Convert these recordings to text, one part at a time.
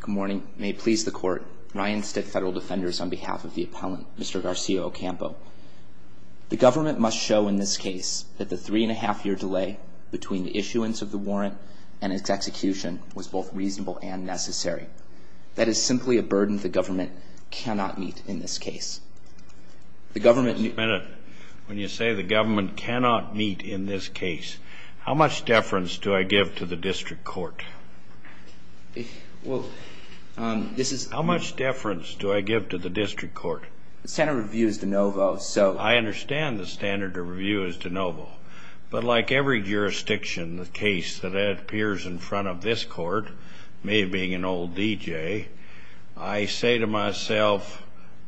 Good morning. May it please the court. Ryan Stitt Federal Defenders on behalf of the appellant, Mr. Garcia-Ocampo. The government must show in this case that the three and a half year delay between the issuance of the warrant and its execution was both reasonable and necessary. That is simply a burden the government cannot meet in this case. The government... Just a minute. When you say the government cannot meet in this case, how much deference do I give to the district court? Well, this is... How much deference do I give to the district court? The standard of review is de novo, so... I understand the standard of review is de novo. But like every jurisdiction, the case that appears in front of this court, me being an old DJ, I say to myself,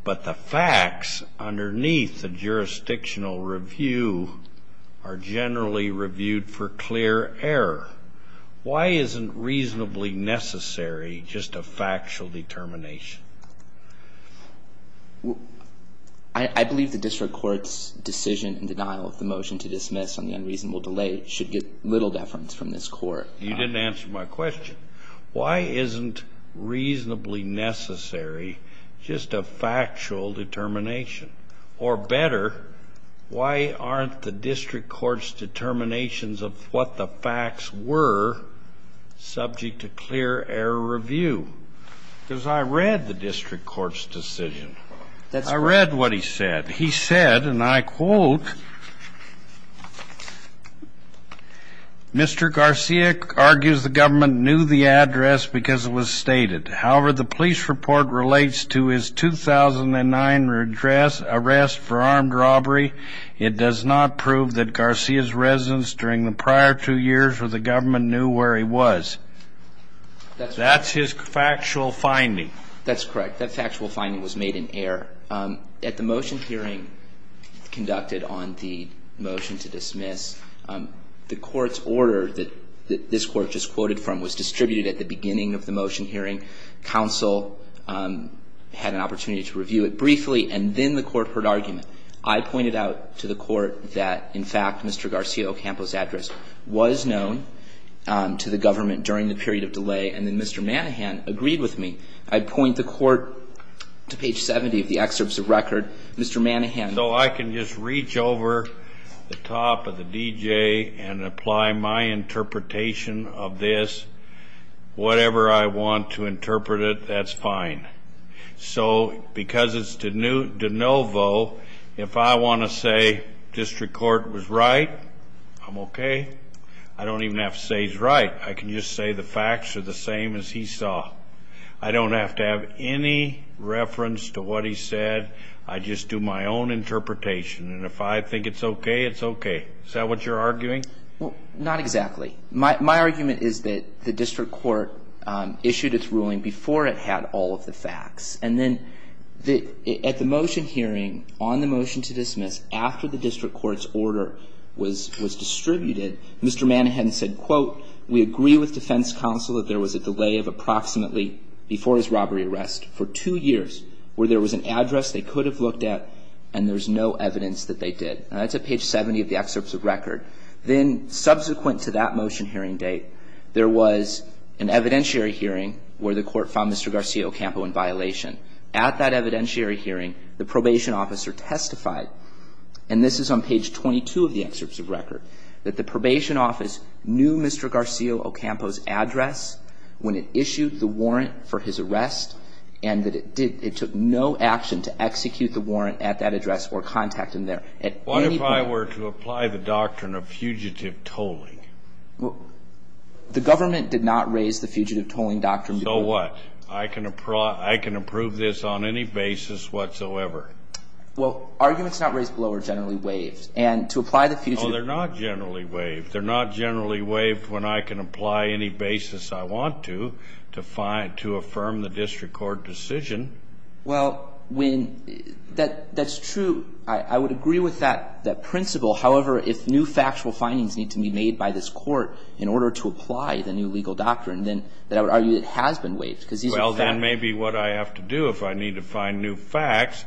but the facts underneath the jurisdictional review are generally reviewed for clear error. Why isn't reasonably necessary just a factual determination? I believe the district court's decision in denial of the motion to dismiss on the unreasonable delay should get little deference from this court. You didn't answer my question. Why isn't reasonably necessary just a factual determination? Or better, why aren't the district court's determinations of what the facts were subject to clear error review? Because I read the district court's decision. I read what he said. He said, and I quote, Mr. Garcia argues the government knew the address because it was stated. However, the police report relates to his 2009 arrest for armed robbery. It does not prove that Garcia's residence during the prior two years where the government knew where he was. That's his factual finding. That's correct. That factual finding was made in error. At the motion hearing conducted on the motion to dismiss, the court's order that this court just quoted from was distributed at the beginning of the motion hearing. Counsel had an opportunity to review it briefly. And then the court heard argument. I pointed out to the court that, in fact, Mr. Garcia Ocampo's address was known to the government during the period of delay. And then Mr. Manahan agreed with me. I point the court to page 70 of the excerpts of record. Mr. Manahan. So I can just reach over the top of the DJ and apply my interpretation of this, whatever I want to interpret it, that's fine. So because it's de novo, if I want to say district court was right, I'm okay. I don't even have to say he's right. I can just say the facts are the same as he saw. I don't have to have any reference to what he said. I just do my own interpretation. And if I think it's okay, it's okay. Is that what you're arguing? Well, not exactly. My argument is that the district court issued its ruling before it had all of the facts. And then at the motion hearing on the motion to dismiss, after the district court's order was distributed, Mr. Manahan said, quote, we agree with defense counsel that there was a delay of approximately before his robbery arrest for two years where there was an address they could have looked at and there's no evidence that they did. And that's at page 70 of the excerpts of record. Then subsequent to that motion hearing date, there was an evidentiary hearing where the court found Mr. Garcia Ocampo in violation. At that evidentiary hearing, the probation officer testified, and this is on page 22 of the excerpts of record, that the probation office knew Mr. Garcia Ocampo's address when it issued the warrant for his arrest, and that it took no action to execute the warrant at that address or contact him there. What if I were to apply the doctrine of fugitive tolling? The government did not raise the fugitive tolling doctrine. So what? I can approve this on any basis whatsoever. Well, arguments not raised below are generally waived. And to apply the fugitive tolling. Oh, they're not generally waived. They're not generally waived when I can apply any basis I want to to find to affirm the district court decision. Well, when that's true, I would agree with that principle. However, if new factual findings need to be made by this court in order to apply the new legal doctrine, then I would argue it has been waived because these are facts. And maybe what I have to do, if I need to find new facts,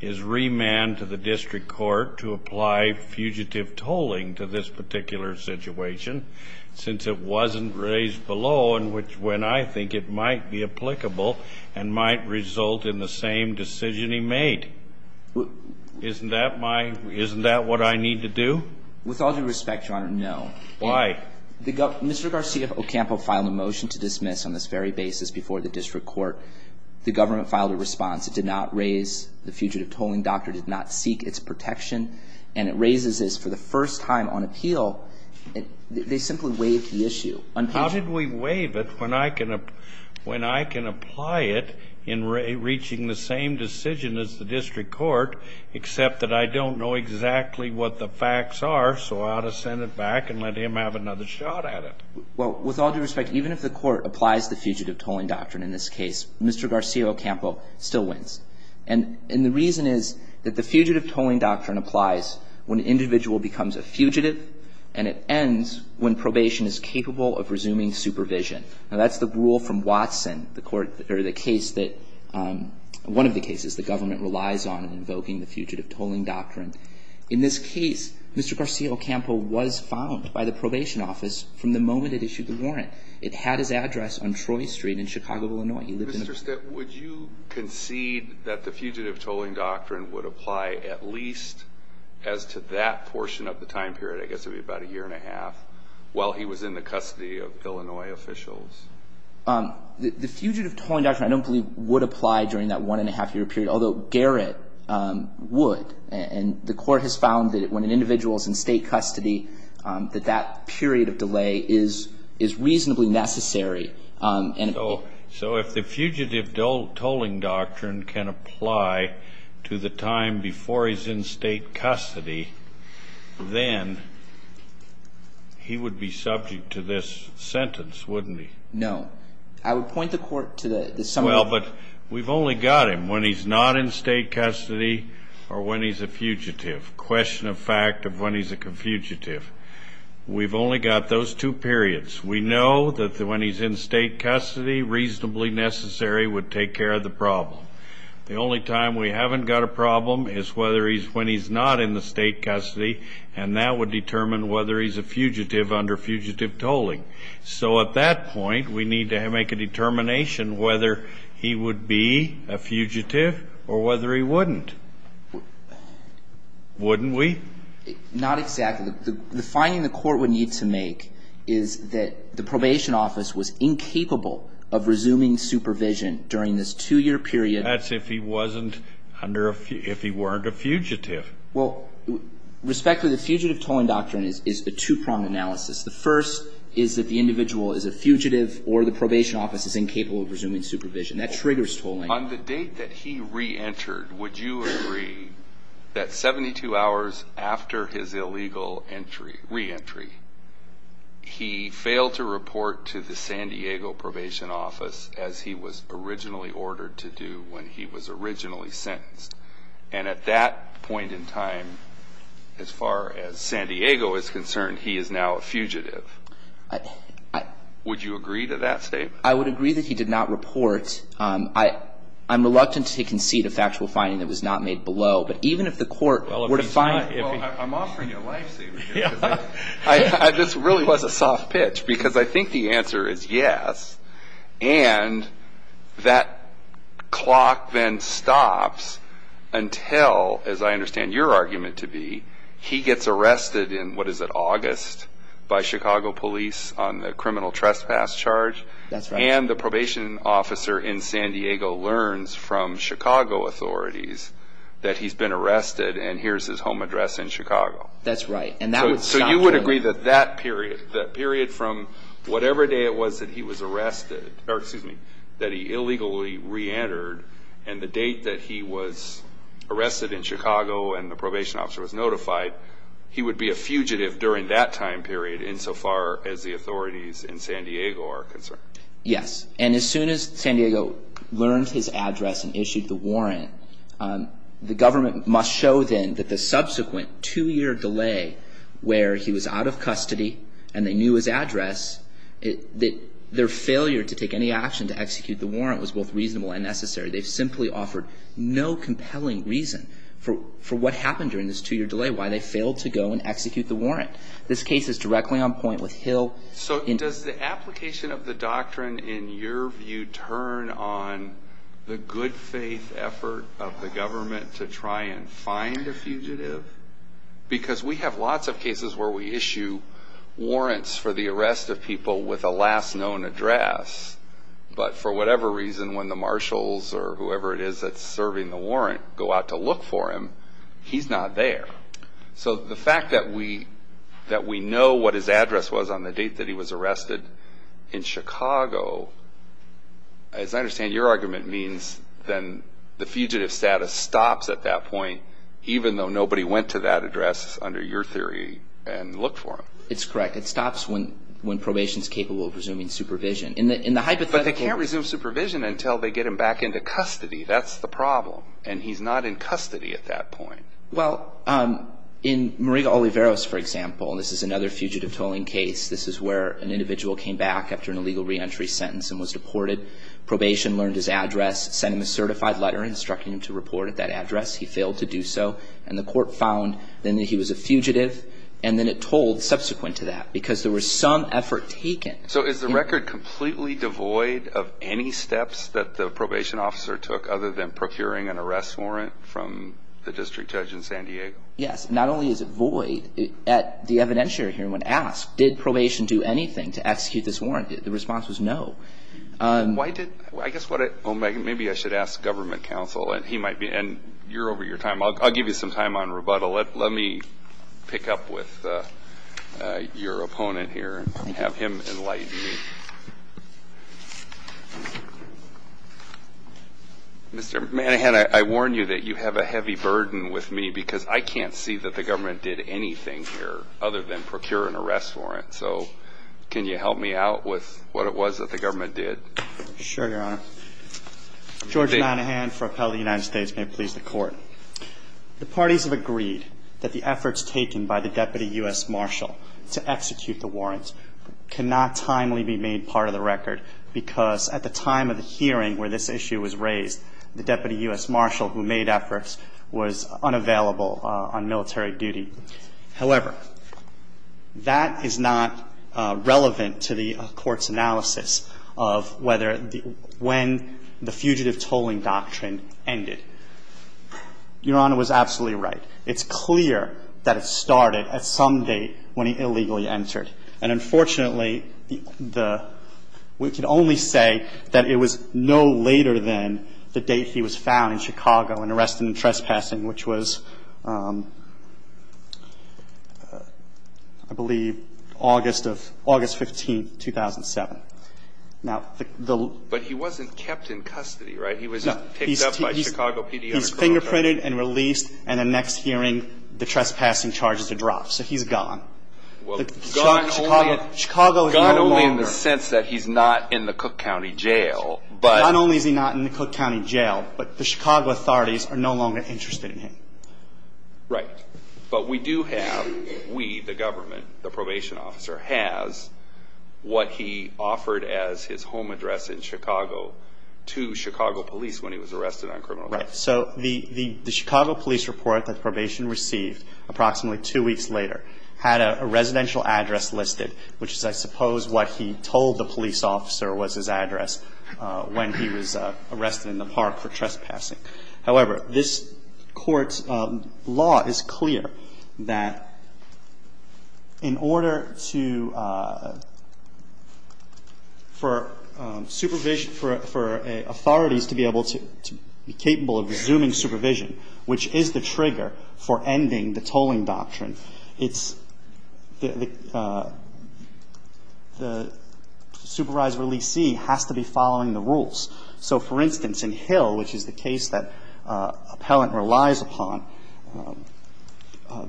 is remand to the district court to apply fugitive tolling to this particular situation, since it wasn't raised below and which when I think it might be applicable and might result in the same decision he made. Isn't that what I need to do? With all due respect, Your Honor, no. Why? Mr. Garcia Ocampo filed a motion to dismiss on this very basis before the district court. The government filed a response. It did not raise the fugitive tolling doctrine. It did not seek its protection. And it raises this for the first time on appeal. They simply waived the issue. How did we waive it when I can apply it in reaching the same decision as the district court, except that I don't know exactly what the facts are, so I ought to send it back and let him have another shot at it? Well, with all due respect, even if the court applies the fugitive tolling doctrine in this case, Mr. Garcia Ocampo still wins. And the reason is that the fugitive tolling doctrine applies when an individual becomes a fugitive, and it ends when probation is capable of resuming supervision. Now, that's the rule from Watson, one of the cases the government relies on in invoking the fugitive tolling doctrine. In this case, Mr. Garcia Ocampo was found by the probation office from the moment it issued the warrant. It had his address on Troy Street in Chicago, Illinois. Mr. Stitt, would you concede that the fugitive tolling doctrine would apply at least as to that portion of the time period? I guess it would be about a year and a half while he was in the custody of Illinois officials. The fugitive tolling doctrine I don't believe would apply during that one-and-a-half-year period, although Garrett would. And the court has found that when an individual is in state custody, that that period of delay is reasonably necessary. So if the fugitive tolling doctrine can apply to the time before he's in state custody, then he would be subject to this sentence, wouldn't he? No. I would point the court to the summary. Well, but we've only got him when he's not in state custody or when he's a fugitive, question of fact of when he's a fugitive. We've only got those two periods. We know that when he's in state custody, reasonably necessary would take care of the problem. The only time we haven't got a problem is whether he's when he's not in the state custody, and that would determine whether he's a fugitive under fugitive tolling. So at that point, we need to make a determination whether he would be a fugitive or whether he wouldn't. Wouldn't we? Not exactly. The finding the court would need to make is that the probation office was incapable of resuming supervision during this two-year period. That's if he wasn't under a – if he weren't a fugitive. Well, respectfully, the fugitive tolling doctrine is a two-pronged analysis. The first is that the individual is a fugitive or the probation office is incapable of resuming supervision. That triggers tolling. On the date that he reentered, would you agree that 72 hours after his illegal reentry, he failed to report to the San Diego probation office as he was originally ordered to do when he was originally sentenced? And at that point in time, as far as San Diego is concerned, he is now a fugitive. Would you agree to that statement? I would agree that he did not report. I'm reluctant to concede a factual finding that was not made below. But even if the court were to find – Well, I'm offering you a life saver here. This really was a soft pitch because I think the answer is yes. And that clock then stops until, as I understand your argument to be, he gets arrested in, what is it, August by Chicago police on the criminal trespass charge? That's right. And the probation officer in San Diego learns from Chicago authorities that he's been arrested and here's his home address in Chicago. That's right. So you would agree that that period, that period from whatever day it was that he was arrested – or excuse me, that he illegally reentered and the date that he was arrested in Chicago and the probation officer was notified, he would be a fugitive during that time period insofar as the authorities in San Diego are concerned? Yes. And as soon as San Diego learned his address and issued the warrant, the government must show then that the subsequent two-year delay where he was out of custody and they knew his address, that their failure to take any action to execute the warrant was both reasonable and necessary. They've simply offered no compelling reason for what happened during this two-year delay, why they failed to go and execute the warrant. This case is directly on point with Hill. So does the application of the doctrine, in your view, turn on the good faith effort of the government to try and find a fugitive? Because we have lots of cases where we issue warrants for the arrest of people with a last known address, but for whatever reason, when the marshals or whoever it is that's serving the warrant go out to look for him, he's not there. So the fact that we know what his address was on the date that he was arrested in Chicago, as I understand your argument means then the fugitive status stops at that point even though nobody went to that address under your theory and looked for him. It's correct. It stops when probation is capable of resuming supervision. But they can't resume supervision until they get him back into custody. That's the problem. And he's not in custody at that point. Well, in Maria Oliveros, for example, this is another fugitive tolling case. This is where an individual came back after an illegal reentry sentence and was deported. Probation learned his address, sent him a certified letter instructing him to report at that address. He failed to do so, and the court found then that he was a fugitive, and then it tolled subsequent to that because there was some effort taken. So is the record completely devoid of any steps that the probation officer took other than procuring an arrest warrant from the district judge in San Diego? Yes. Not only is it void at the evidentiary hearing when asked, did probation do anything to execute this warrant? The response was no. Why did – I guess what I – well, maybe I should ask government counsel, and he might be – and you're over your time. I'll give you some time on rebuttal. Let me pick up with your opponent here and have him enlighten you. Mr. Manahan, I warn you that you have a heavy burden with me because I can't see that the government did anything here other than procure an arrest warrant. So can you help me out with what it was that the government did? Sure, Your Honor. George Manahan for appellate of the United States. May it please the Court. The parties have agreed that the efforts taken by the deputy U.S. marshal to execute the warrant cannot timely be refuted. We made part of the record because at the time of the hearing where this issue was raised, the deputy U.S. marshal who made efforts was unavailable on military duty. However, that is not relevant to the Court's analysis of whether – when the fugitive tolling doctrine ended. Your Honor was absolutely right. It's clear that it started at some date when he illegally entered. And, unfortunately, the – we can only say that it was no later than the date he was found in Chicago and arrested in trespassing, which was, I believe, August of – August 15, 2007. Now, the – But he wasn't kept in custody, right? No. He was picked up by Chicago PD on a criminal charge. He's fingerprinted and released, and the next hearing the trespassing charges are dropped. So he's gone. Well, gone only – Chicago is no longer – Gone only in the sense that he's not in the Cook County Jail, but – Gone only is he not in the Cook County Jail, but the Chicago authorities are no longer interested in him. Right. But we do have – we, the government, the probation officer, has what he offered as his home address in Chicago to Chicago police when he was arrested on criminal charges. Right. So the Chicago police report that probation received approximately two weeks later had a residential address listed, which is, I suppose, what he told the police officer was his address when he was arrested in the park for trespassing. However, this Court's law is clear that in order to – for supervision – for authorities to be able to – to be capable of resuming supervision, which is the trigger for ending the tolling doctrine, it's – the supervisor leesee has to be following the rules. So, for instance, in Hill, which is the case that appellant relies upon,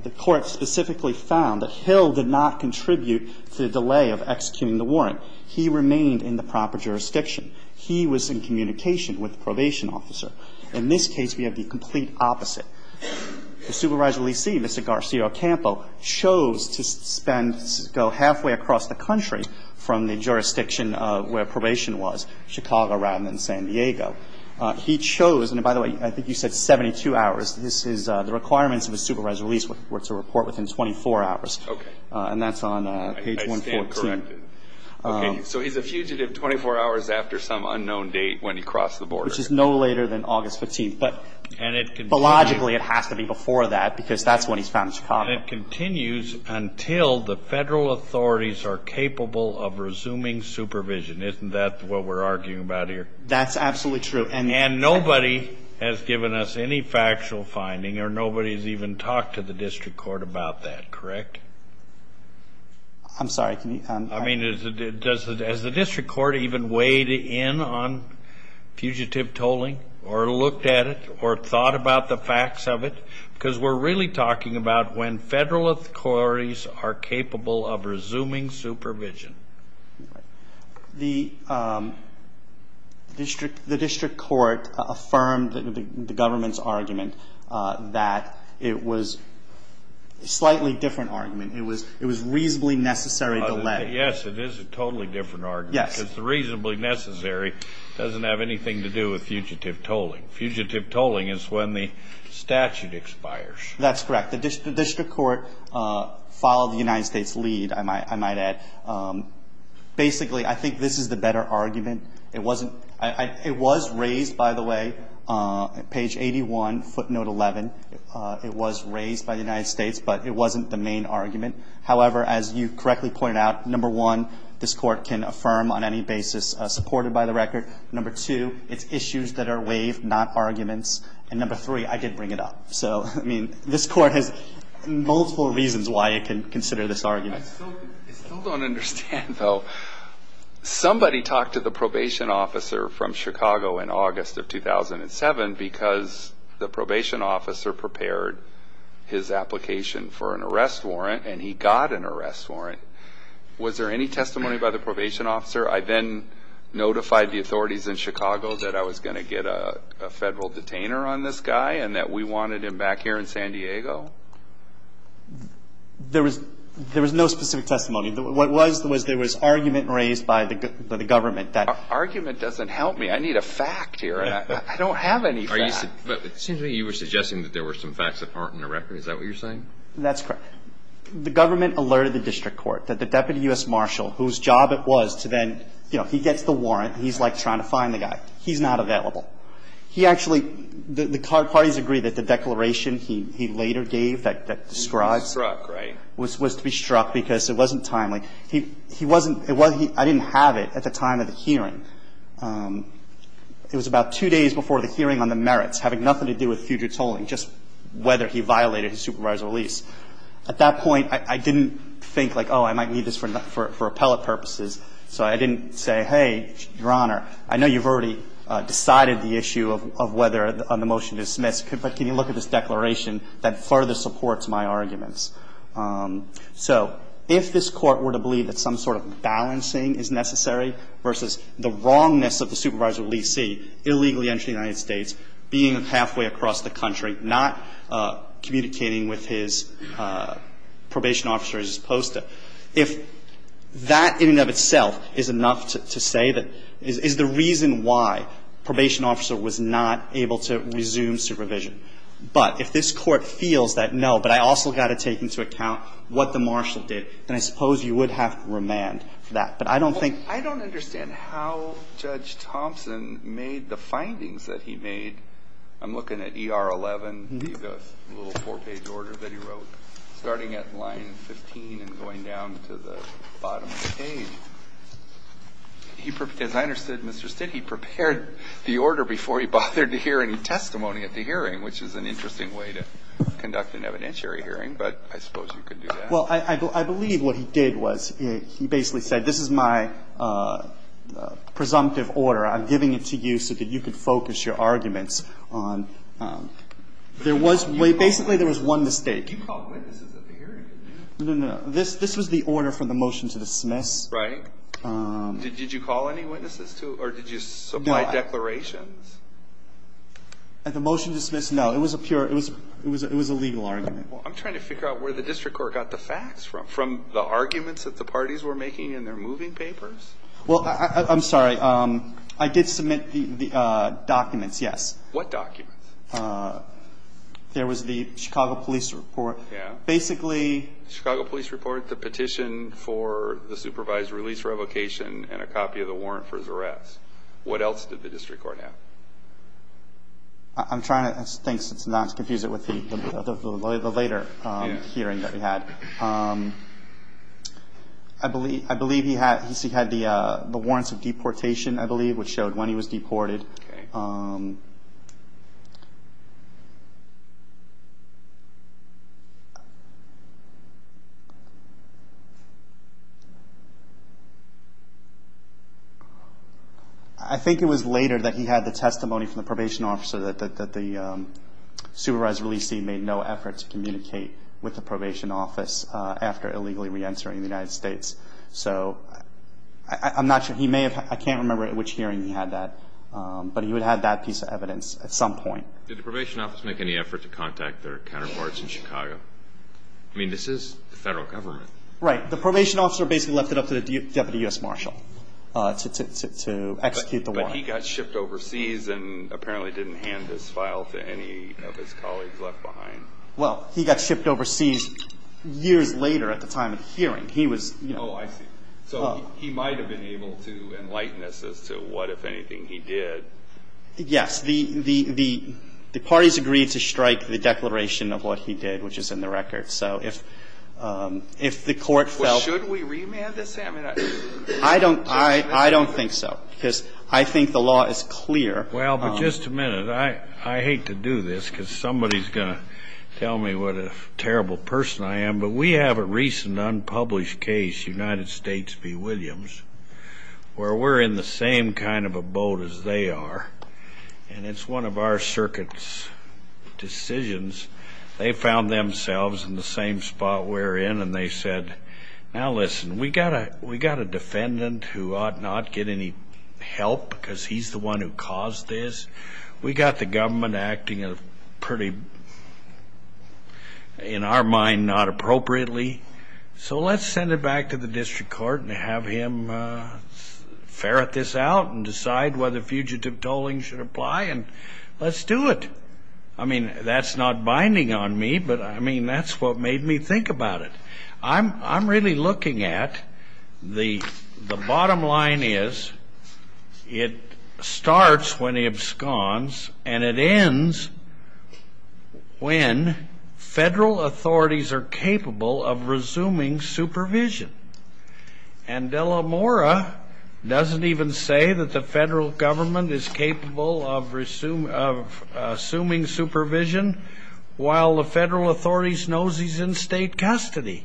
the Court specifically found that Hill did not contribute to the delay of executing the warrant. He remained in the proper jurisdiction. He was in communication with the probation officer. In this case, we have the complete opposite. The supervisor leesee, Mr. Garcia Ocampo, chose to spend – go halfway across the country from the jurisdiction where probation was, Chicago rather than San Diego. He chose – and, by the way, I think you said 72 hours. This is – the requirements of a supervisor leesee were to report within 24 hours. Okay. And that's on page 114. I stand corrected. Okay. So he's a fugitive 24 hours after some unknown date when he crossed the border. Which is no later than August 15th. But, philologically, it has to be before that because that's when he's found in Chicago. And it continues until the federal authorities are capable of resuming supervision. Isn't that what we're arguing about here? That's absolutely true. And nobody has given us any factual finding, or nobody has even talked to the district court about that, correct? I'm sorry. I mean, has the district court even weighed in on fugitive tolling, or looked at it, or thought about the facts of it? Because we're really talking about when federal authorities are capable of resuming supervision. The district court affirmed the government's argument that it was a slightly different argument. It was reasonably necessary delay. Yes, it is a totally different argument. Yes. Because the reasonably necessary doesn't have anything to do with fugitive tolling. Fugitive tolling is when the statute expires. That's correct. The district court followed the United States lead, I might add. Basically, I think this is the better argument. It was raised, by the way, at page 81, footnote 11. It was raised by the United States, but it wasn't the main argument. However, as you correctly pointed out, number one, this court can affirm on any basis supported by the record. Number two, it's issues that are waived, not arguments. And number three, I did bring it up. So, I mean, this court has multiple reasons why it can consider this argument. I still don't understand, though. Somebody talked to the probation officer from Chicago in August of 2007 because the probation officer prepared his application for an arrest warrant, and he got an arrest warrant. Was there any testimony by the probation officer? I then notified the authorities in Chicago that I was going to get a federal detainer on this guy and that we wanted him back here in San Diego. There was no specific testimony. What was, was there was argument raised by the government that argument doesn't help me. I need a fact here. I don't have any fact. But it seems to me you were suggesting that there were some facts that aren't in the record. Is that what you're saying? That's correct. The government alerted the district court that the deputy U.S. marshal, whose job it was to then, you know, he gets the warrant, he's like trying to find the guy. He's not available. He actually, the parties agreed that the declaration he later gave that describes. He was struck, right? Was to be struck because it wasn't timely. He wasn't, I didn't have it at the time of the hearing. It was about two days before the hearing on the merits, having nothing to do with future tolling, just whether he violated his supervisor's release. At that point, I didn't think like, oh, I might need this for appellate purposes. So I didn't say, hey, Your Honor, I know you've already decided the issue of whether the motion is dismissed, but can you look at this declaration that further supports my arguments? So if this Court were to believe that some sort of balancing is necessary versus the wrongness of the supervisor's release, see, illegally entering the United States, being halfway across the country, not communicating with his probation officer as he's supposed to, if that in and of itself is enough to say that, is the reason why probation officer was not able to resume supervision. But if this Court feels that, no, but I also got to take into account what the marshal did, then I suppose you would have to remand that. But I don't think ---- Kennedy, I don't understand how Judge Thompson made the findings that he made. I'm looking at ER11, the little four-page order that he wrote, starting at line 15 and going down to the bottom of the page. As I understood, Mr. Stitt, he prepared the order before he bothered to hear any testimony at the hearing, which is an interesting way to conduct an evidentiary hearing, but I suppose you could do that. Well, I believe what he did was he basically said this is my presumptive order. I'm giving it to you so that you can focus your arguments on ---- Basically, there was one mistake. You called witnesses at the hearing. This was the order for the motion to dismiss. Right. Did you call any witnesses or did you supply declarations? At the motion to dismiss, no. It was a legal argument. I'm trying to figure out where the district court got the facts from, from the arguments that the parties were making in their moving papers. Well, I'm sorry. I did submit the documents, yes. What documents? There was the Chicago Police report. Yeah. Basically ---- The Chicago Police report, the petition for the supervised release revocation, and a copy of the warrant for his arrest. What else did the district court have? I'm trying to not confuse it with the later hearing that we had. I believe he had the warrants of deportation, I believe, which showed when he was deported. I think it was later that he had the testimony from the probation officer that the supervised release scene made no effort to communicate with the probation office after illegally re-entering the United States. So, I'm not sure. He may have. I can't remember at which hearing he had that, but he would have that piece of evidence at some point. Did the probation office make any effort to contact their counterparts in Chicago? No. I mean, this is the federal government. Right. The probation officer basically left it up to the Deputy U.S. Marshal to execute the warrant. But he got shipped overseas and apparently didn't hand this file to any of his colleagues left behind. Well, he got shipped overseas years later at the time of the hearing. He was ---- Oh, I see. So, he might have been able to enlighten us as to what, if anything, he did. Yes. The parties agreed to strike the declaration of what he did, which is in the record. So, if the court felt ---- Well, should we remand this? I mean, I don't think so because I think the law is clear. Well, but just a minute. I hate to do this because somebody is going to tell me what a terrible person I am. But we have a recent unpublished case, United States v. Williams, where we're in the same kind of a boat as they are. And it's one of our circuit's decisions. They found themselves in the same spot we're in. And they said, Now, listen, we got a defendant who ought not get any help because he's the one who caused this. We got the government acting pretty, in our mind, not appropriately. So, let's send it back to the district court and have him ferret this out and decide whether fugitive tolling should apply. And let's do it. I mean, that's not binding on me, but, I mean, that's what made me think about it. I'm really looking at the bottom line is it starts when he absconds and it ends when federal authorities are capable of resuming supervision. And Delamora doesn't even say that the federal government is capable of assuming supervision while the federal authorities know he's in state custody.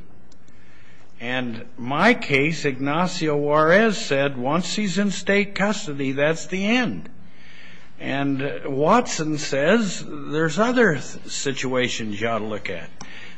And my case, Ignacio Juarez said once he's in state custody, that's the end. And Watson says there's other situations you ought to look at.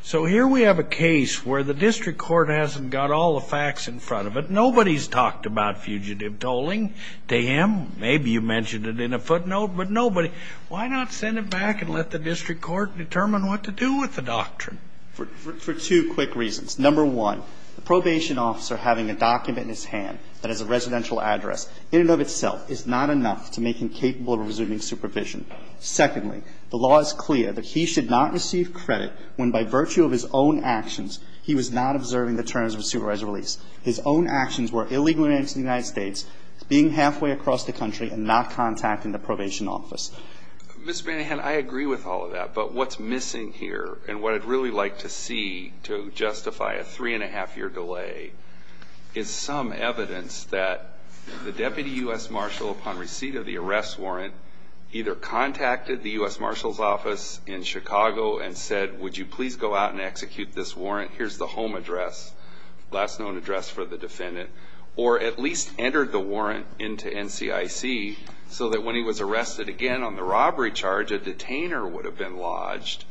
So here we have a case where the district court hasn't got all the facts in front of it. Nobody's talked about fugitive tolling to him. Maybe you mentioned it in a footnote, but nobody. Why not send it back and let the district court determine what to do with the doctrine? For two quick reasons. Number one, the probation officer having a document in his hand that is a residential address, in and of itself, is not enough to make him capable of resuming supervision. Secondly, the law is clear that he should not receive credit when, by virtue of his own actions, he was not observing the terms of a supervised release. His own actions were illegal in the United States, being halfway across the country, and not contacting the probation office. Mr. Manahan, I agree with all of that. But what's missing here and what I'd really like to see to justify a three-and-a-half-year delay is some evidence that the deputy U.S. marshal, upon receipt of the arrest warrant, either contacted the U.S. marshal's office in Chicago and said, would you please go out and execute this warrant, here's the home address, last known address for the defendant, or at least entered the warrant into NCIC so that when he was arrested again on the robbery charge, a detainer would have been lodged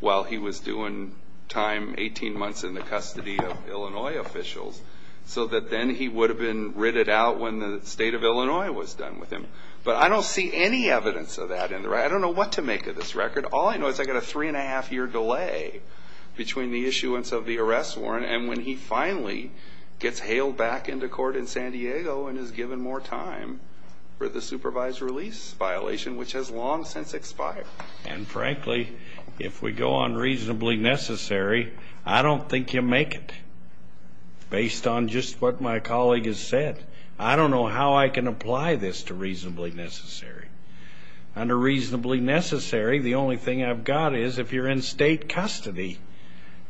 while he was due in time, 18 months in the custody of Illinois officials, so that then he would have been ridded out when the state of Illinois was done with him. But I don't see any evidence of that. I don't know what to make of this record. All I know is I've got a three-and-a-half-year delay between the issuance of the arrest warrant and when he finally gets hailed back into court in San Diego and is given more time for the supervised release violation, which has long since expired. And frankly, if we go on reasonably necessary, I don't think you make it, based on just what my colleague has said. I don't know how I can apply this to reasonably necessary. Under reasonably necessary, the only thing I've got is if you're in state custody,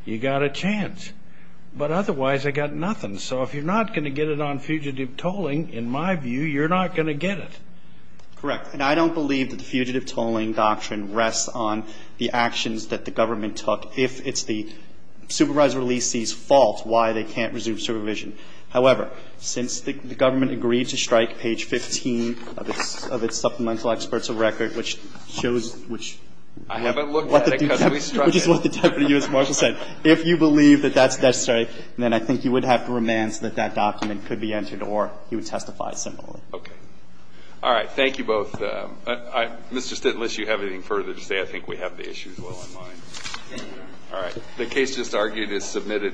you've got a chance. But otherwise, I've got nothing. So if you're not going to get it on fugitive tolling, in my view, you're not going to get it. Correct. And I don't believe that the fugitive tolling doctrine rests on the actions that the government took if it's the supervised release's fault why they can't resume supervision. However, since the government agreed to strike page 15 of its supplemental experts of record, which shows which we have. I haven't looked at it because we struck it. Which is what the Deputy U.S. Marshal said. If you believe that that's necessary, then I think you would have to remand so that that document could be entered or he would testify similarly. Okay. All right. Thank you both. Mr. Stitt, unless you have anything further to say, I think we have the issues well in mind. Thank you, Your Honor. All right. The case just argued is submitted.